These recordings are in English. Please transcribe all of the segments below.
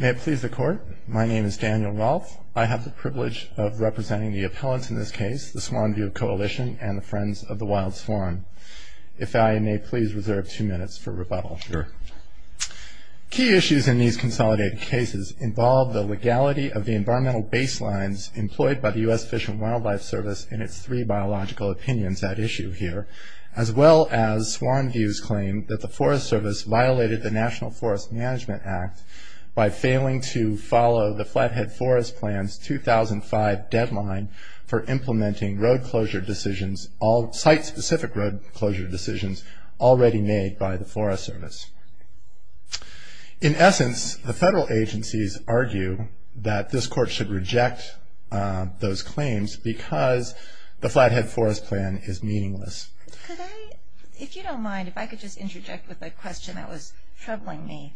May it please the Court, my name is Daniel Rolfe. I have the privilege of representing the appellants in this case, the Swan View Coalition and the Friends of the Wild Swan. If I may please reserve two minutes for rebuttal. Sure. Key issues in these consolidated cases involve the legality of the environmental baselines employed by the U.S. Fish and Wildlife Service in its three biological opinions at issue here, as well as Swan View's claim that the Forest Service violated the National Forest Management Act by failing to follow the Flathead Forest Plan's 2005 deadline for implementing site-specific road closure decisions already made by the Forest Service. In essence, the federal agencies argue that this Court should reject those claims because the Flathead Forest Plan is meaningless. If you don't mind, if I could just interject with a question that was troubling me.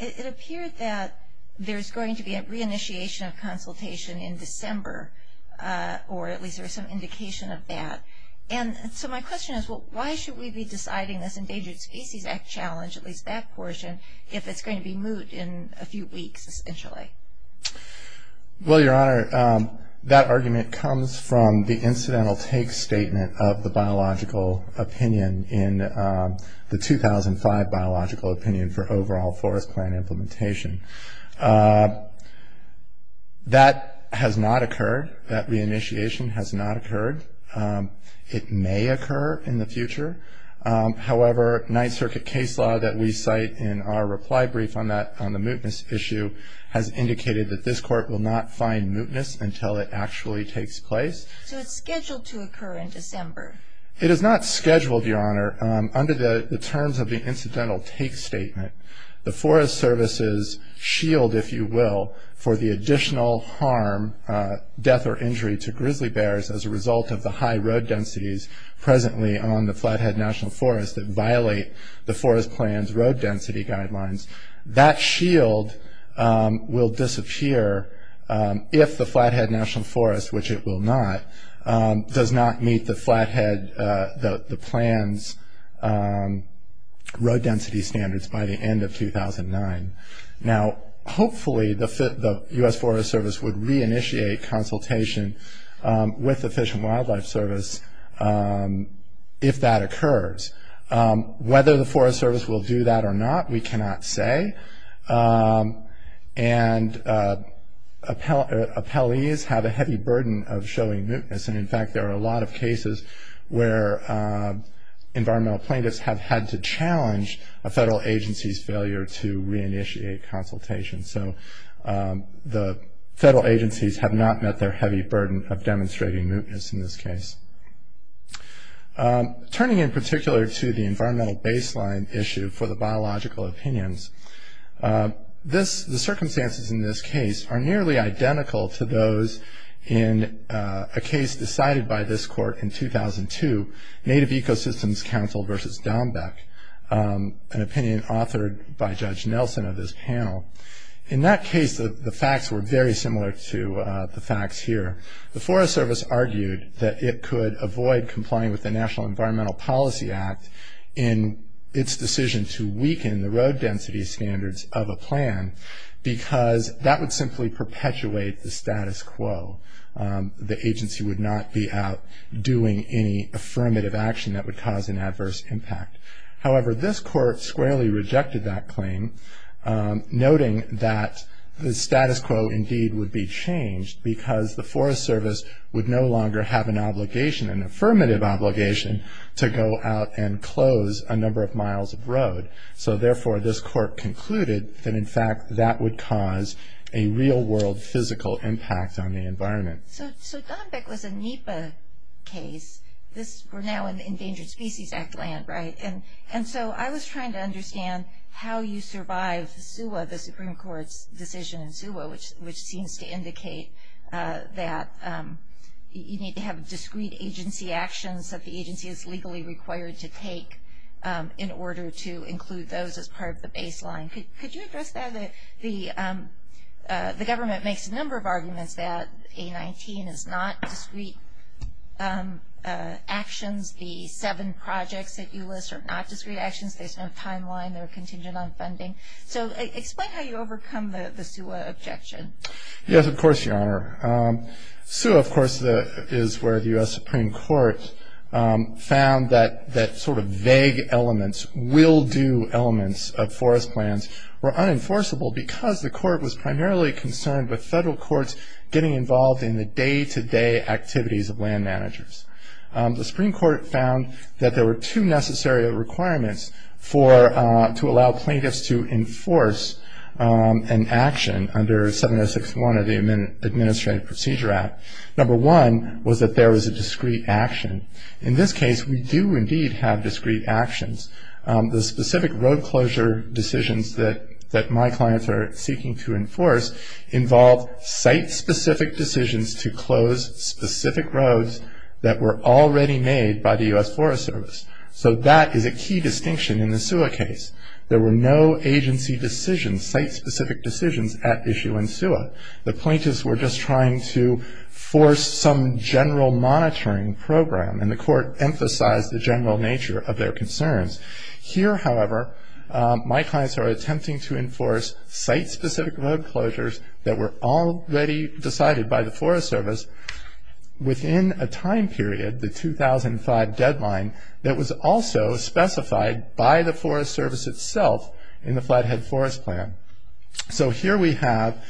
It appeared that there's going to be a re-initiation of consultation in December, or at least there's some indication of that. And so my question is, well, why should we be deciding this Endangered Species Act challenge, at least that portion, if it's going to be moved in a few weeks, essentially? Well, Your Honor, that argument comes from the incidental take statement of the biological opinion in the 2005 biological opinion for overall forest plan implementation. That has not occurred. That re-initiation has not occurred. It may occur in the future. However, Ninth Circuit case law that we cite in our reply brief on the mootness issue has indicated that this Court will not find mootness until it actually takes place. So it's scheduled to occur in December? It is not scheduled, Your Honor, under the terms of the incidental take statement. The Forest Service's shield, if you will, for the additional harm, death or injury to grizzly bears as a result of the high road densities presently on the Flathead National Forest that violate the Forest Plan's road density guidelines, that shield will disappear if the Flathead National Forest, which it will not, does not meet the Flathead, the plan's road density standards by the end of 2009. Now, hopefully, the U.S. Forest Service would re-initiate consultation with the Fish and Wildlife Service if that occurs. Whether the Forest Service will do that or not, we cannot say. And appellees have a heavy burden of showing mootness, and in fact there are a lot of cases where environmental plaintiffs have had to challenge a federal agency's failure to re-initiate consultation. So the federal agencies have not met their heavy burden of demonstrating mootness in this case. Turning in particular to the environmental baseline issue for the biological opinions, the circumstances in this case are nearly identical to those in a case decided by this court in 2002, Native Ecosystems Council v. Dombek, an opinion authored by Judge Nelson of this panel. In that case, the facts were very similar to the facts here. The Forest Service argued that it could avoid complying with the National Environmental Policy Act in its decision to weaken the road density standards of a plan because that would simply perpetuate the status quo. The agency would not be out doing any affirmative action that would cause an adverse impact. However, this court squarely rejected that claim, noting that the status quo indeed would be changed because the Forest Service would no longer have an obligation, an affirmative obligation, to go out and close a number of miles of road. So therefore, this court concluded that, in fact, that would cause a real-world physical impact on the environment. So Dombek was a NEPA case. We're now in the Endangered Species Act land, right? And so I was trying to understand how you survive the SUA, the Supreme Court's decision in SUA, which seems to indicate that you need to have discrete agency actions that the agency is legally required to take in order to include those as part of the baseline. Could you address that? The government makes a number of arguments that A19 is not discrete actions. The seven projects that you list are not discrete actions. There's no timeline. They're contingent on funding. So explain how you overcome the SUA objection. Yes, of course, Your Honor. SUA, of course, is where the U.S. Supreme Court found that sort of vague elements, will-do elements of forest plans were unenforceable because the court was primarily concerned with federal courts getting involved in the day-to-day activities of land managers. The Supreme Court found that there were two necessary requirements to allow plaintiffs to enforce an action under 706.1 of the Administrative Procedure Act. Number one was that there was a discrete action. In this case, we do indeed have discrete actions. The specific road closure decisions that my clients are seeking to enforce involve site-specific decisions to close specific roads that were already made by the U.S. Forest Service. So that is a key distinction in the SUA case. There were no agency decisions, site-specific decisions at issue in SUA. The plaintiffs were just trying to force some general monitoring program, and the court emphasized the general nature of their concerns. Here, however, my clients are attempting to enforce site-specific road closures that were already decided by the Forest Service within a time period, the 2005 deadline, that was also specified by the Forest Service itself in the Flathead Forest Plan. So here we have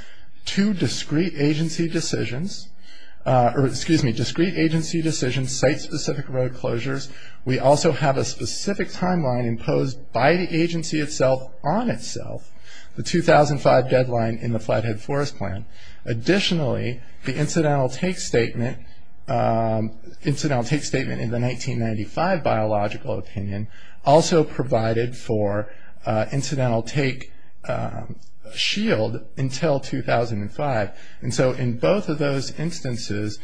two discrete agency decisions, or excuse me, discrete agency decisions, site-specific road closures. We also have a specific timeline imposed by the agency itself on itself, the 2005 deadline in the Flathead Forest Plan. Additionally, the incidental take statement in the 1995 biological opinion also provided for incidental take shield until 2005. And so in both of those instances,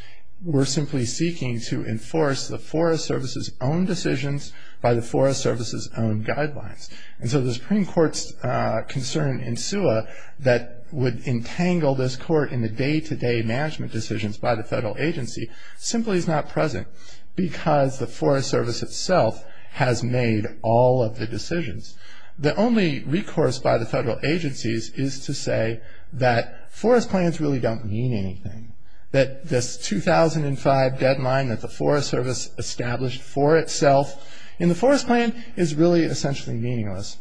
we're simply seeking to enforce the Forest Service's own decisions by the Forest Service's own guidelines. And so the Supreme Court's concern in SUA that would entangle this court in the day-to-day management decisions by the federal agency simply is not present because the Forest Service itself has made all of the decisions. The only recourse by the federal agencies is to say that forest plans really don't mean anything, that this 2005 deadline that the Forest Service established for itself in the Forest Plan is really essentially meaningless.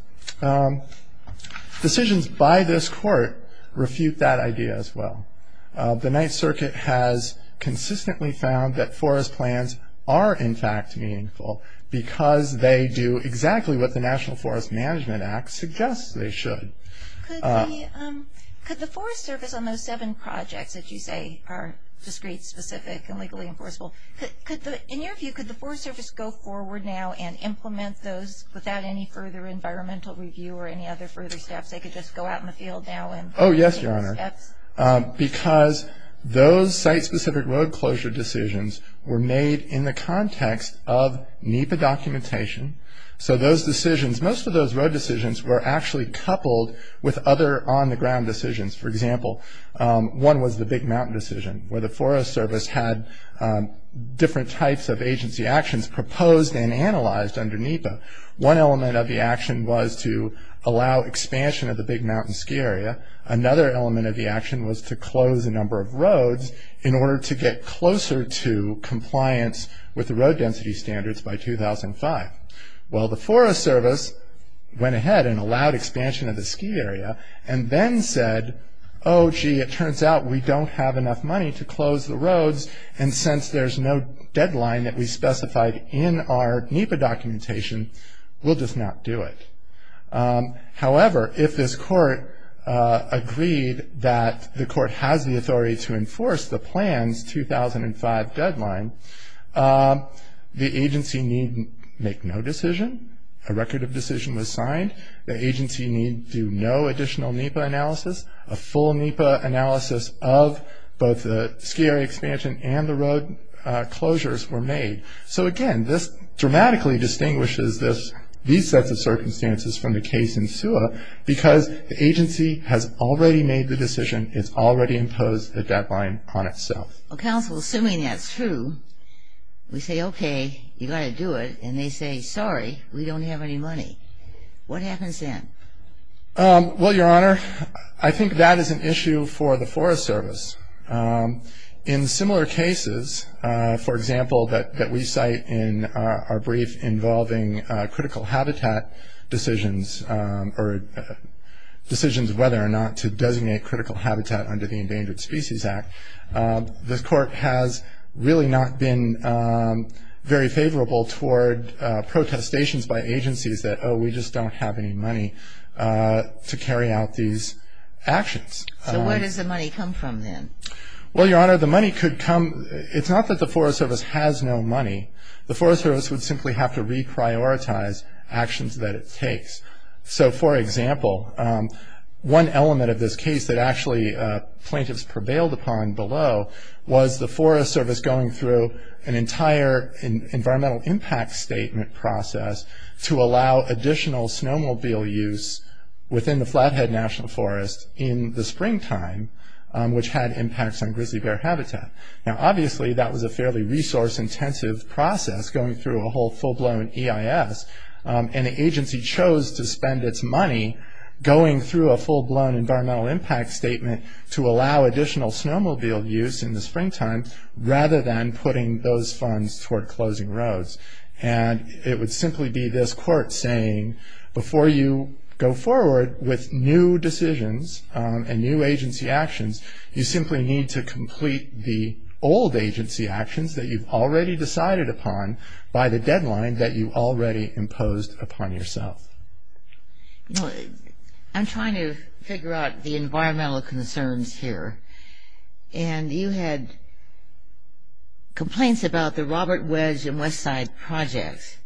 Decisions by this court refute that idea as well. The Ninth Circuit has consistently found that forest plans are in fact meaningful because they do exactly what the National Forest Management Act suggests they should. Could the Forest Service on those seven projects that you say are discrete, specific, and legally enforceable, in your view, could the Forest Service go forward now and implement those without any further environmental review or any other further steps? They could just go out in the field now and take those steps? Oh, yes, Your Honor, because those site-specific road closure decisions were made in the context of NEPA documentation. So those decisions, most of those road decisions, were actually coupled with other on-the-ground decisions. For example, one was the Big Mountain decision, where the Forest Service had different types of agency actions proposed and analyzed under NEPA. One element of the action was to allow expansion of the Big Mountain ski area. Another element of the action was to close a number of roads in order to get closer to compliance with the road density standards by 2005. Well, the Forest Service went ahead and allowed expansion of the ski area and then said, oh, gee, it turns out we don't have enough money to close the roads, and since there's no deadline that we specified in our NEPA documentation, we'll just not do it. However, if this Court agreed that the Court has the authority to enforce the plan's 2005 deadline, the agency need make no decision. A record of decision was signed. The agency need do no additional NEPA analysis. A full NEPA analysis of both the ski area expansion and the road closures were made. So, again, this dramatically distinguishes these sets of circumstances from the case in SEWA because the agency has already made the decision. It's already imposed the deadline on itself. Well, counsel, assuming that's true, we say, okay, you've got to do it, and they say, sorry, we don't have any money. What happens then? Well, Your Honor, I think that is an issue for the Forest Service. In similar cases, for example, that we cite in our brief involving critical habitat decisions or decisions whether or not to designate critical habitat under the Endangered Species Act, this Court has really not been very favorable toward protestations by agencies that, oh, we just don't have any money to carry out these actions. So where does the money come from then? Well, Your Honor, the money could come. It's not that the Forest Service has no money. The Forest Service would simply have to reprioritize actions that it takes. So, for example, one element of this case that actually plaintiffs prevailed upon below was the Forest Service going through an entire environmental impact statement process to allow additional snowmobile use within the Flathead National Forest in the springtime, which had impacts on grizzly bear habitat. Now, obviously, that was a fairly resource-intensive process going through a whole full-blown EIS, and the agency chose to spend its money going through a full-blown environmental impact statement to allow additional snowmobile use in the springtime rather than putting those funds toward closing roads. And it would simply be this Court saying, before you go forward with new decisions and new agency actions, you simply need to complete the old agency actions that you've already decided upon by the deadline that you've already imposed upon yourself. I'm trying to figure out the environmental concerns here, and you had complaints about the Robert Wedge and Westside projects.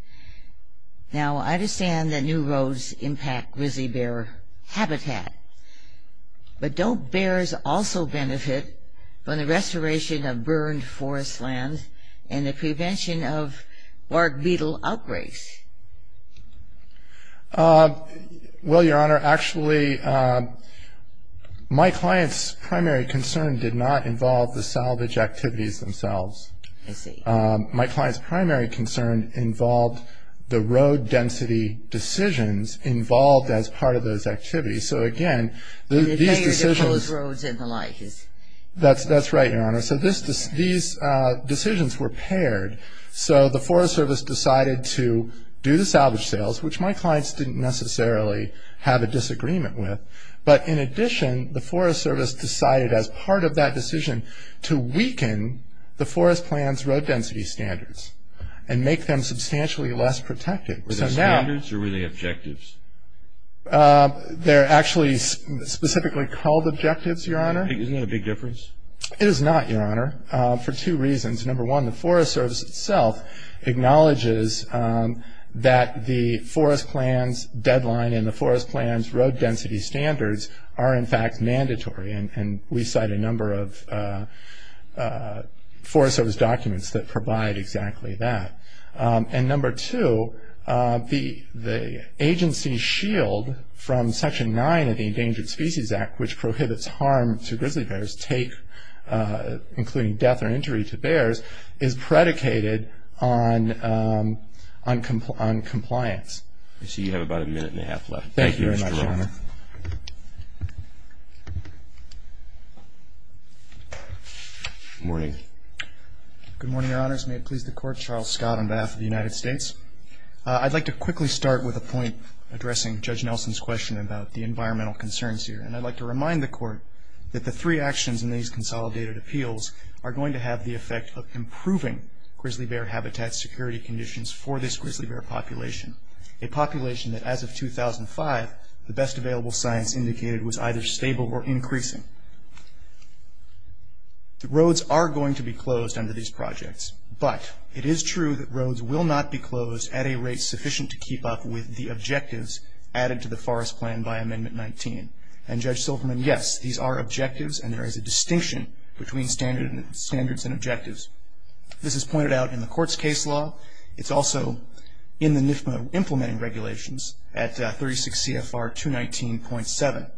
Now, I understand that new roads impact grizzly bear habitat, but don't bears also benefit from the restoration of burned forest lands and the prevention of bark beetle outbreaks? Well, Your Honor, actually, my client's primary concern did not involve the salvage activities themselves. I see. My client's primary concern involved the road density decisions involved as part of those activities. So, again, these decisions... And the failure to close roads and the like is... That's right, Your Honor. So these decisions were paired. So the Forest Service decided to do the salvage sales, which my clients didn't necessarily have a disagreement with. But, in addition, the Forest Service decided, as part of that decision, to weaken the Forest Plan's road density standards and make them substantially less protected. Were they standards or were they objectives? They're actually specifically called objectives, Your Honor. Isn't that a big difference? It is not, Your Honor, for two reasons. Number one, the Forest Service itself acknowledges that the Forest Plan's deadline and the Forest Plan's road density standards are, in fact, mandatory, and we cite a number of Forest Service documents that provide exactly that. And number two, the agency shield from Section 9 of the Endangered Species Act, which prohibits harm to grizzly bears, including death or injury to bears, is predicated on compliance. I see you have about a minute and a half left. Thank you, Mr. Roth. Thank you very much, Your Honor. Good morning. Good morning, Your Honors. May it please the Court, Charles Scott on behalf of the United States. I'd like to quickly start with a point addressing Judge Nelson's question about the environmental concerns here, and I'd like to remind the Court that the three actions in these consolidated appeals are going to have the effect of improving grizzly bear habitat security conditions for this grizzly bear population, a population that as of 2005 the best available science indicated was either stable or increasing. The roads are going to be closed under these projects, but it is true that roads will not be closed at a rate sufficient to keep up with the objectives added to the forest plan by Amendment 19. And Judge Silverman, yes, these are objectives, and there is a distinction between standards and objectives. This is pointed out in the Court's case law. It's also in the NIFMA implementing regulations at 36 CFR 219.7.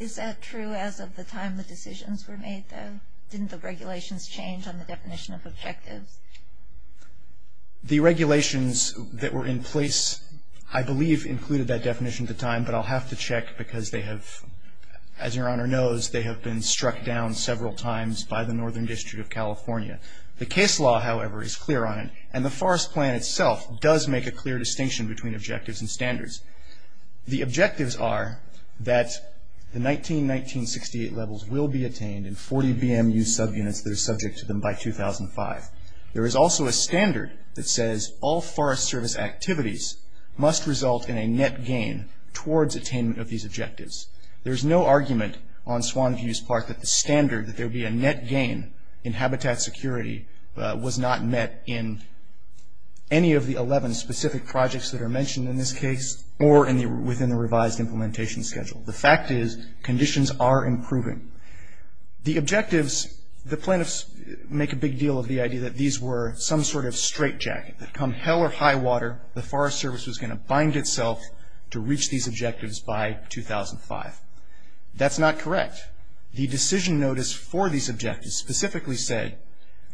Is that true as of the time the decisions were made, though? Didn't the regulations change on the definition of objectives? The regulations that were in place, I believe, included that definition at the time, but I'll have to check because they have, as Your Honor knows, they have been struck down several times by the Northern District of California. The case law, however, is clear on it, and the forest plan itself does make a clear distinction between objectives and standards. The objectives are that the 19-1968 levels will be attained in 40 BMU subunits that are subject to them by 2005. There is also a standard that says all forest service activities must result in a net gain towards attainment of these objectives. There is no argument on Swan Views Park that the standard, that there be a net gain in habitat security, was not met in any of the 11 specific projects that are mentioned in this case or within the revised implementation schedule. The fact is conditions are improving. The objectives, the plaintiffs make a big deal of the idea that these were some sort of straitjacket. That come hell or high water, the Forest Service was going to bind itself to reach these objectives by 2005. That's not correct. In fact, the decision notice for these objectives specifically said,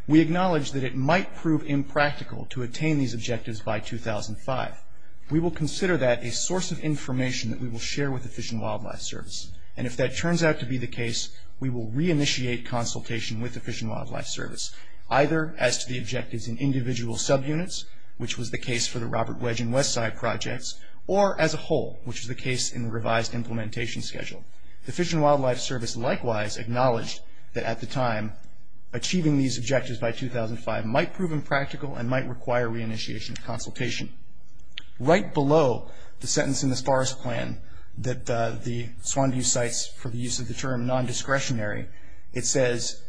we acknowledge that it might prove impractical to attain these objectives by 2005. We will consider that a source of information that we will share with the Fish and Wildlife Service, and if that turns out to be the case, we will reinitiate consultation with the Fish and Wildlife Service, either as to the objectives in individual subunits, which was the case for the Robert Wedge and Westside projects, or as a whole, which is the case in the revised implementation schedule. The Fish and Wildlife Service likewise acknowledged that at the time, achieving these objectives by 2005 might prove impractical and might require reinitiation consultation. Right below the sentence in this Forest Plan that the Swan View cites for the use of the term non-discretionary, it says,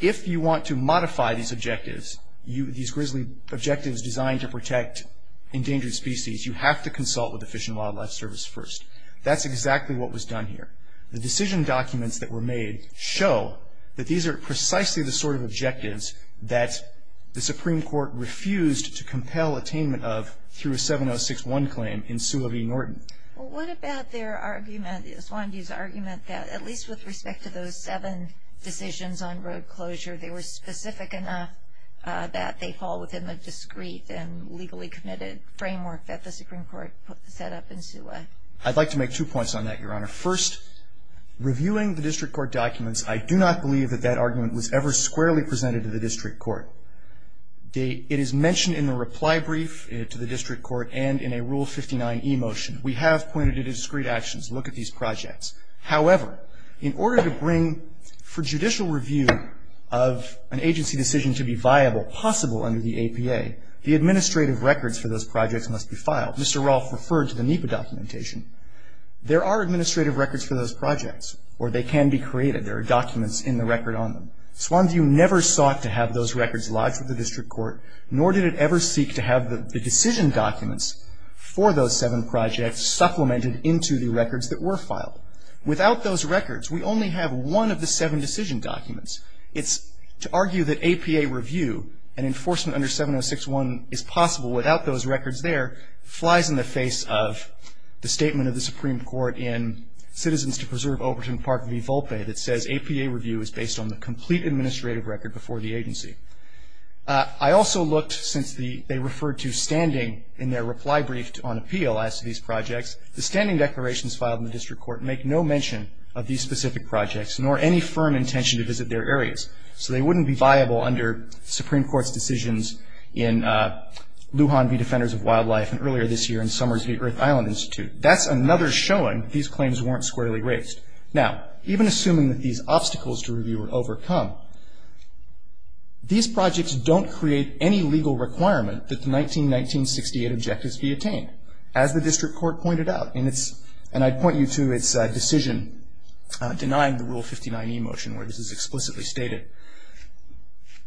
if you want to modify these objectives, these grizzly objectives designed to protect endangered species, you have to consult with the Fish and Wildlife Service first. That's exactly what was done here. The decision documents that were made show that these are precisely the sort of objectives that the Supreme Court refused to compel attainment of through a 7061 claim in Sioux of E. Norton. Well, what about their argument, the Swan View's argument, that at least with respect to those seven decisions on road closure, they were specific enough that they fall within the discreet and legally committed framework that the Supreme Court set up in Sioux Way? I'd like to make two points on that, Your Honor. First, reviewing the district court documents, I do not believe that that argument was ever squarely presented to the district court. It is mentioned in the reply brief to the district court and in a Rule 59e motion. We have pointed to discreet actions. Look at these projects. However, in order to bring for judicial review of an agency decision to be viable, Mr. Rolfe referred to the NEPA documentation. There are administrative records for those projects, or they can be created. There are documents in the record on them. Swan View never sought to have those records lodged with the district court, nor did it ever seek to have the decision documents for those seven projects supplemented into the records that were filed. Without those records, we only have one of the seven decision documents. It's to argue that APA review and enforcement under 7061 is possible without those records there flies in the face of the statement of the Supreme Court in Citizens to Preserve Overton Park v. Volpe that says APA review is based on the complete administrative record before the agency. I also looked, since they referred to standing in their reply brief on appeal as to these projects, the standing declarations filed in the district court make no mention of these specific projects, nor any firm intention to visit their areas. So they wouldn't be viable under Supreme Court's decisions in Lujan v. Defenders of Wildlife and earlier this year in Summers v. Earth Island Institute. That's another showing these claims weren't squarely raised. Now, even assuming that these obstacles to review were overcome, these projects don't create any legal requirement that the 1919-1968 objectives be attained, as the district court pointed out. And I'd point you to its decision denying the Rule 59e motion where this is explicitly stated.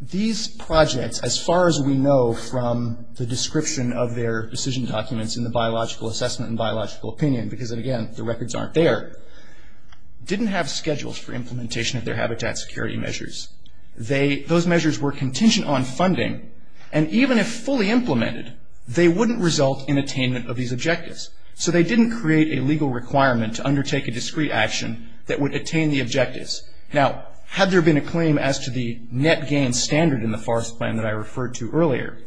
These projects, as far as we know from the description of their decision documents in the biological assessment and biological opinion, because, again, the records aren't there, didn't have schedules for implementation of their habitat security measures. Those measures were contingent on funding, and even if fully implemented, they wouldn't result in attainment of these objectives. So they didn't create a legal requirement to undertake a discrete action that would attain the objectives. Now, had there been a claim as to the net gain standard in the forest plan that I referred to earlier,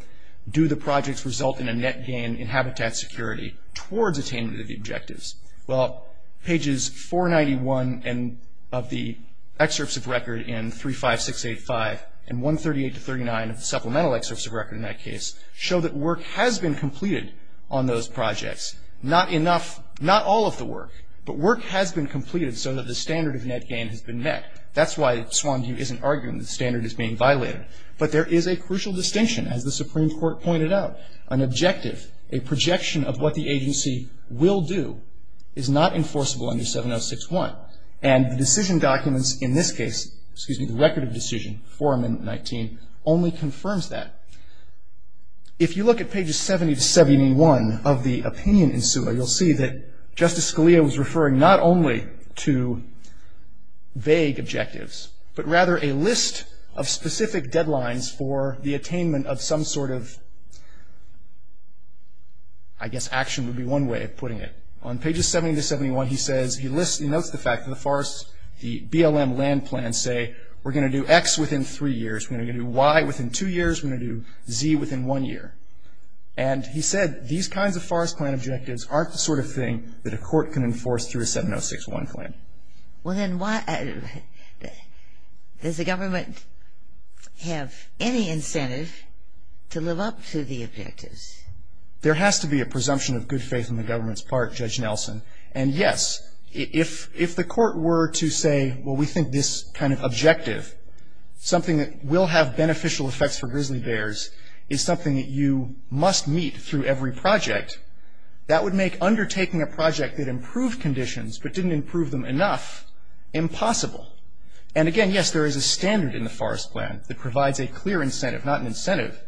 do the projects result in a net gain in habitat security towards attainment of the objectives? Well, pages 491 of the excerpts of record in 35685 and 138-39 of the supplemental excerpts of record in that case show that work has been completed on those projects. Not enough, not all of the work, but work has been completed so that the standard of net gain has been met. That's why Swanview isn't arguing the standard is being violated. But there is a crucial distinction, as the Supreme Court pointed out. An objective, a projection of what the agency will do is not enforceable under 706-1. And the decision documents in this case, excuse me, the record of decision, 419, only confirms that. If you look at pages 70-71 of the opinion in SUA, you'll see that Justice Scalia was referring not only to vague objectives, but rather a list of specific deadlines for the attainment of some sort of, I guess action would be one way of putting it. On pages 70-71, he says, he lists, he notes the fact that the forest, the BLM land plan say, we're going to do X within three years, we're going to do Y within two years, we're going to do Z within one year. And he said these kinds of forest plan objectives aren't the sort of thing that a court can enforce through a 706-1 plan. Well, then why, does the government have any incentive to live up to the objectives? There has to be a presumption of good faith on the government's part, Judge Nelson. And yes, if the court were to say, well, we think this kind of objective, something that will have beneficial effects for grizzly bears, is something that you must meet through every project, that would make undertaking a project that improved conditions, but didn't improve them enough, impossible. And again, yes, there is a standard in the forest plan that provides a clear incentive, not an incentive,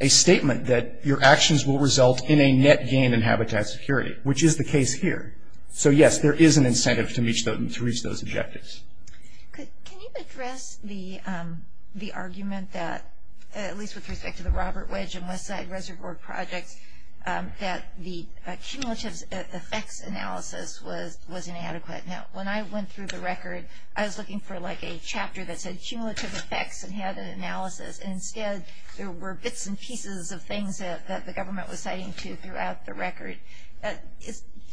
a statement that your actions will result in a net gain in habitat security, which is the case here. So yes, there is an incentive to reach those objectives. Can you address the argument that, at least with respect to the Robert Wedge and Westside Reservoir Projects, that the cumulative effects analysis was inadequate? Now, when I went through the record, I was looking for like a chapter that said cumulative effects and had an analysis. And instead, there were bits and pieces of things that the government was citing throughout the record.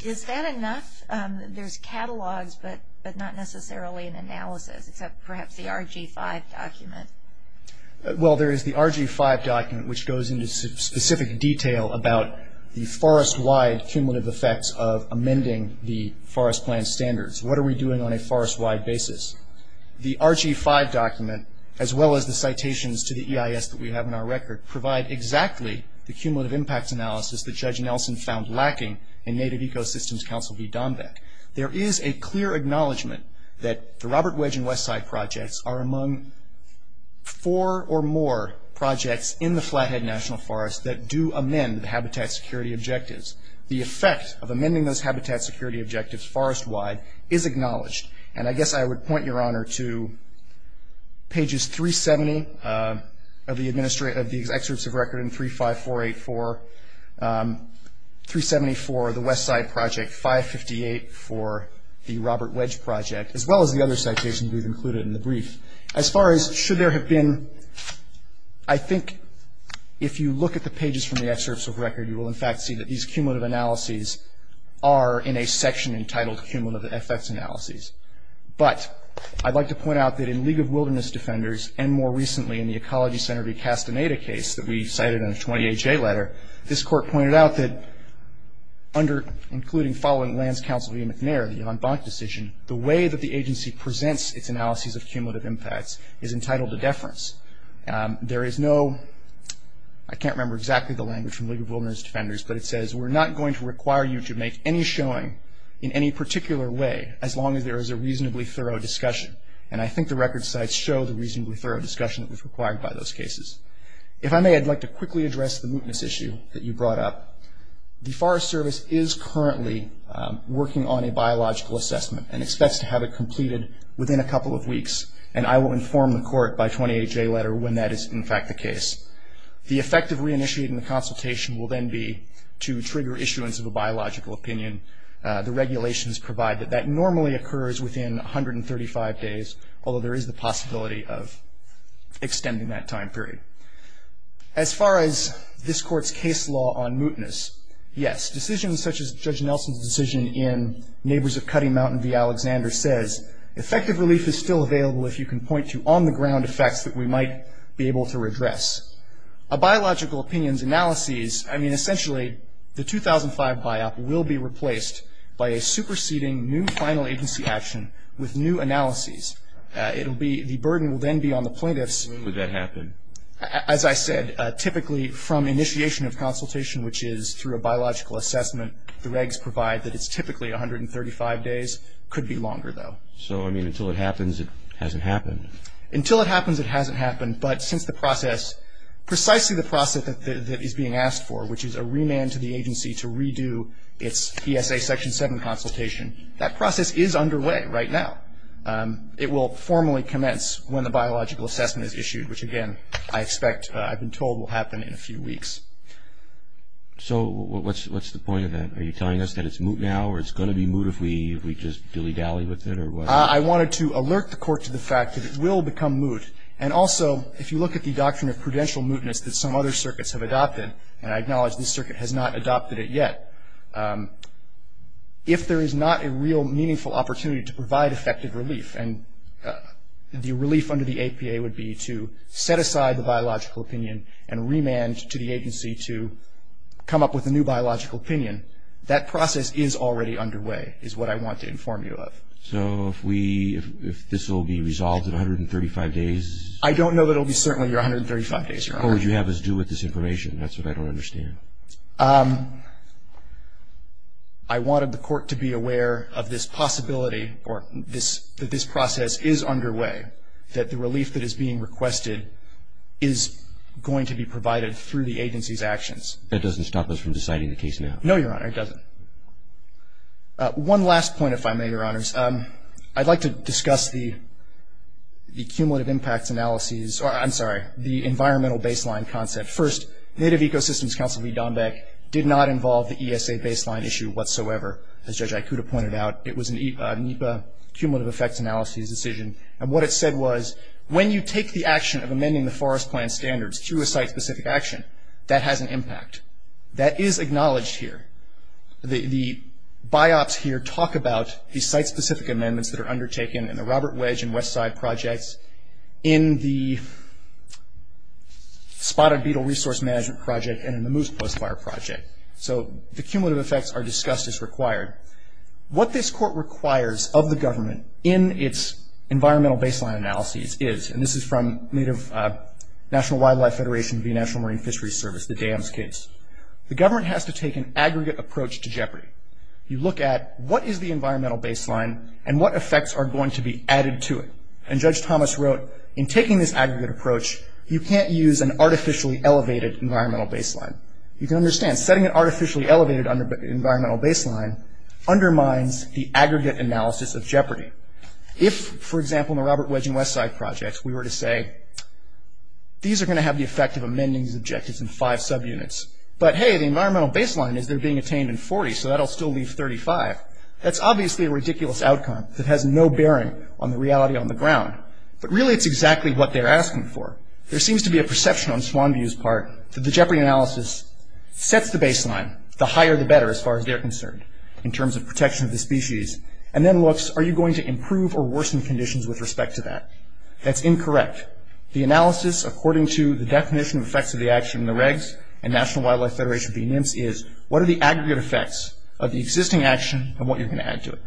Is that enough? There's catalogs, but not necessarily an analysis, except perhaps the RG5 document. Well, there is the RG5 document, which goes into specific detail about the forest-wide cumulative effects of amending the forest plan standards. What are we doing on a forest-wide basis? The RG5 document, as well as the citations to the EIS that we have in our record, provide exactly the cumulative impacts analysis that Judge Nelson found lacking in Native Ecosystems Council v. Dombeck. There is a clear acknowledgment that the Robert Wedge and Westside Projects are among four or more projects in the Flathead National Forest that do amend the habitat security objectives. The effect of amending those habitat security objectives forest-wide is acknowledged. And I guess I would point your honor to pages 370 of the excerpts of record in 35484, 374 of the Westside Project, 558 for the Robert Wedge Project, as well as the other citations we've included in the brief. As far as should there have been, I think if you look at the pages from the excerpts of record, you will in fact see that these cumulative analyses are in a section entitled cumulative effects analyses. But I'd like to point out that in League of Wilderness Defenders, and more recently in the Ecology Center v. Castaneda case that we cited in the 20HA letter, this court pointed out that under, including following Lands Council v. McNair, the Yvonne Bonk decision, the way that the agency presents its analyses of cumulative impacts is entitled to deference. There is no, I can't remember exactly the language from League of Wilderness Defenders, but it says we're not going to require you to make any showing in any particular way, as long as there is a reasonably thorough discussion. And I think the record sites show the reasonably thorough discussion that was required by those cases. If I may, I'd like to quickly address the mootness issue that you brought up. The Forest Service is currently working on a biological assessment and expects to have it completed within a couple of weeks. And I will inform the court by 20HA letter when that is, in fact, the case. The effect of reinitiating the consultation will then be to trigger issuance of a biological opinion. The regulations provide that that normally occurs within 135 days, although there is the possibility of extending that time period. As far as this court's case law on mootness, yes, decisions such as Judge Nelson's decision in Neighbors of Cutting Mountain v. Alexander says, effective relief is still available if you can point to on-the-ground effects that we might be able to redress. A biological opinion's analyses, I mean, essentially the 2005 BIOP will be replaced by a superseding new final agency action with new analyses. It will be, the burden will then be on the plaintiffs. When would that happen? As I said, typically from initiation of consultation, which is through a biological assessment, the regs provide that it's typically 135 days. Could be longer, though. So, I mean, until it happens, it hasn't happened. Until it happens, it hasn't happened. But since the process, precisely the process that is being asked for, which is a remand to the agency to redo its ESA Section 7 consultation, that process is underway right now. It will formally commence when the biological assessment is issued, which, again, I expect, I've been told will happen in a few weeks. So what's the point of that? Are you telling us that it's moot now, or it's going to be moot if we just dilly-dally with it, or what? I wanted to alert the Court to the fact that it will become moot. And also, if you look at the doctrine of prudential mootness that some other circuits have adopted, and I acknowledge this circuit has not adopted it yet, if there is not a real meaningful opportunity to provide effective relief, and the relief under the APA would be to set aside the biological opinion and remand to the agency to come up with a new biological opinion, that process is already underway, is what I want to inform you of. So if this will be resolved in 135 days? I don't know that it will be certainly 135 days. What would you have us do with this information? That's what I don't understand. I wanted the Court to be aware of this possibility, or that this process is underway, that the relief that is being requested is going to be provided through the agency's actions. That doesn't stop us from deciding the case now? No, Your Honor, it doesn't. One last point, if I may, Your Honors. I'd like to discuss the cumulative impacts analyses, or I'm sorry, the environmental baseline concept. First, Native Ecosystems Council v. Dombek did not involve the ESA baseline issue whatsoever, as Judge Ikuta pointed out. It was a NEPA cumulative effects analyses decision, and what it said was when you take the action of amending the forest plan standards through a site-specific action, that has an impact. That is acknowledged here. The biops here talk about the site-specific amendments that are undertaken in the Robert Wedge and Westside projects, in the Spotted Beetle Resource Management Project, and in the Moose Post Fire Project. So the cumulative effects are discussed as required. What this Court requires of the government in its environmental baseline analyses is, and this is from Native National Wildlife Federation v. National Marine Fisheries Service, the DAMS case, the government has to take an aggregate approach to jeopardy. You look at what is the environmental baseline and what effects are going to be added to it. And Judge Thomas wrote, in taking this aggregate approach, you can't use an artificially elevated environmental baseline. You can understand, setting an artificially elevated environmental baseline undermines the aggregate analysis of jeopardy. If, for example, in the Robert Wedge and Westside projects, we were to say, these are going to have the effect of amending these objectives in five subunits, but hey, the environmental baseline is they're being attained in 40, so that will still leave 35. That's obviously a ridiculous outcome that has no bearing on the reality on the ground. But really, it's exactly what they're asking for. There seems to be a perception on Swanview's part that the jeopardy analysis sets the baseline, the higher the better, as far as they're concerned, in terms of protection of the species, and then looks, are you going to improve or worsen conditions with respect to that? That's incorrect. The analysis, according to the definition of effects of the action in the regs and National Wildlife Federation of the NIMS, is what are the aggregate effects of the existing action and what you're going to add to it.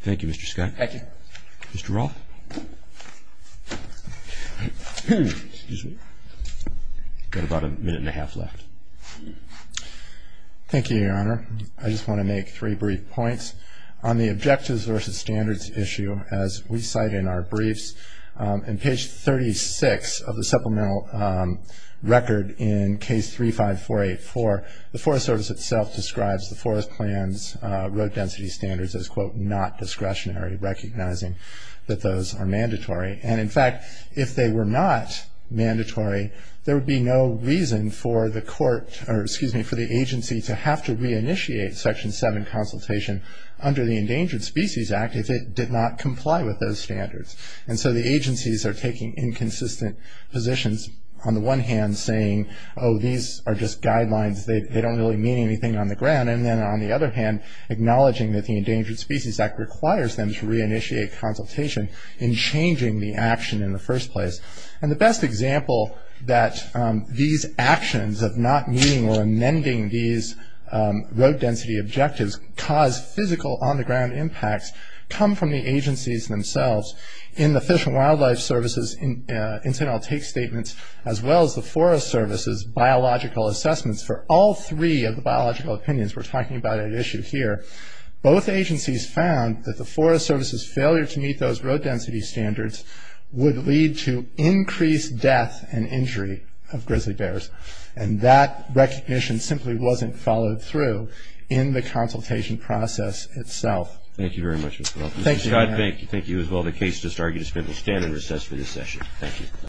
Thank you, Mr. Scott. Thank you. Mr. Roth. Got about a minute and a half left. Thank you, Your Honor. I just want to make three brief points. On the objectives versus standards issue, as we cite in our briefs, in page 36 of the supplemental record in case 35484, the Forest Service itself describes the Forest Plan's road density standards as, quote, not discretionary, recognizing that those are mandatory. And, in fact, if they were not mandatory, there would be no reason for the agency to have to reinitiate Section 7 consultation under the Endangered Species Act if it did not comply with those standards. And so the agencies are taking inconsistent positions, on the one hand, saying, oh, these are just guidelines, they don't really mean anything on the ground. And then, on the other hand, acknowledging that the Endangered Species Act requires them to reinitiate consultation in changing the action in the first place. And the best example that these actions of not meeting or amending these road density objectives cause physical on-the-ground impacts come from the agencies themselves. In the Fish and Wildlife Service's incidental take statements, as well as the Forest Service's biological assessments, for all three of the biological opinions we're talking about at issue here, both agencies found that the Forest Service's failure to meet those road density standards would lead to increased death and injury of grizzly bears. And that recognition simply wasn't followed through in the consultation process itself. Thank you very much. Thank you, Your Honor. Mr. Scott Bank, thank you as well. The case has just argued. It will stand in recess for this session. Thank you.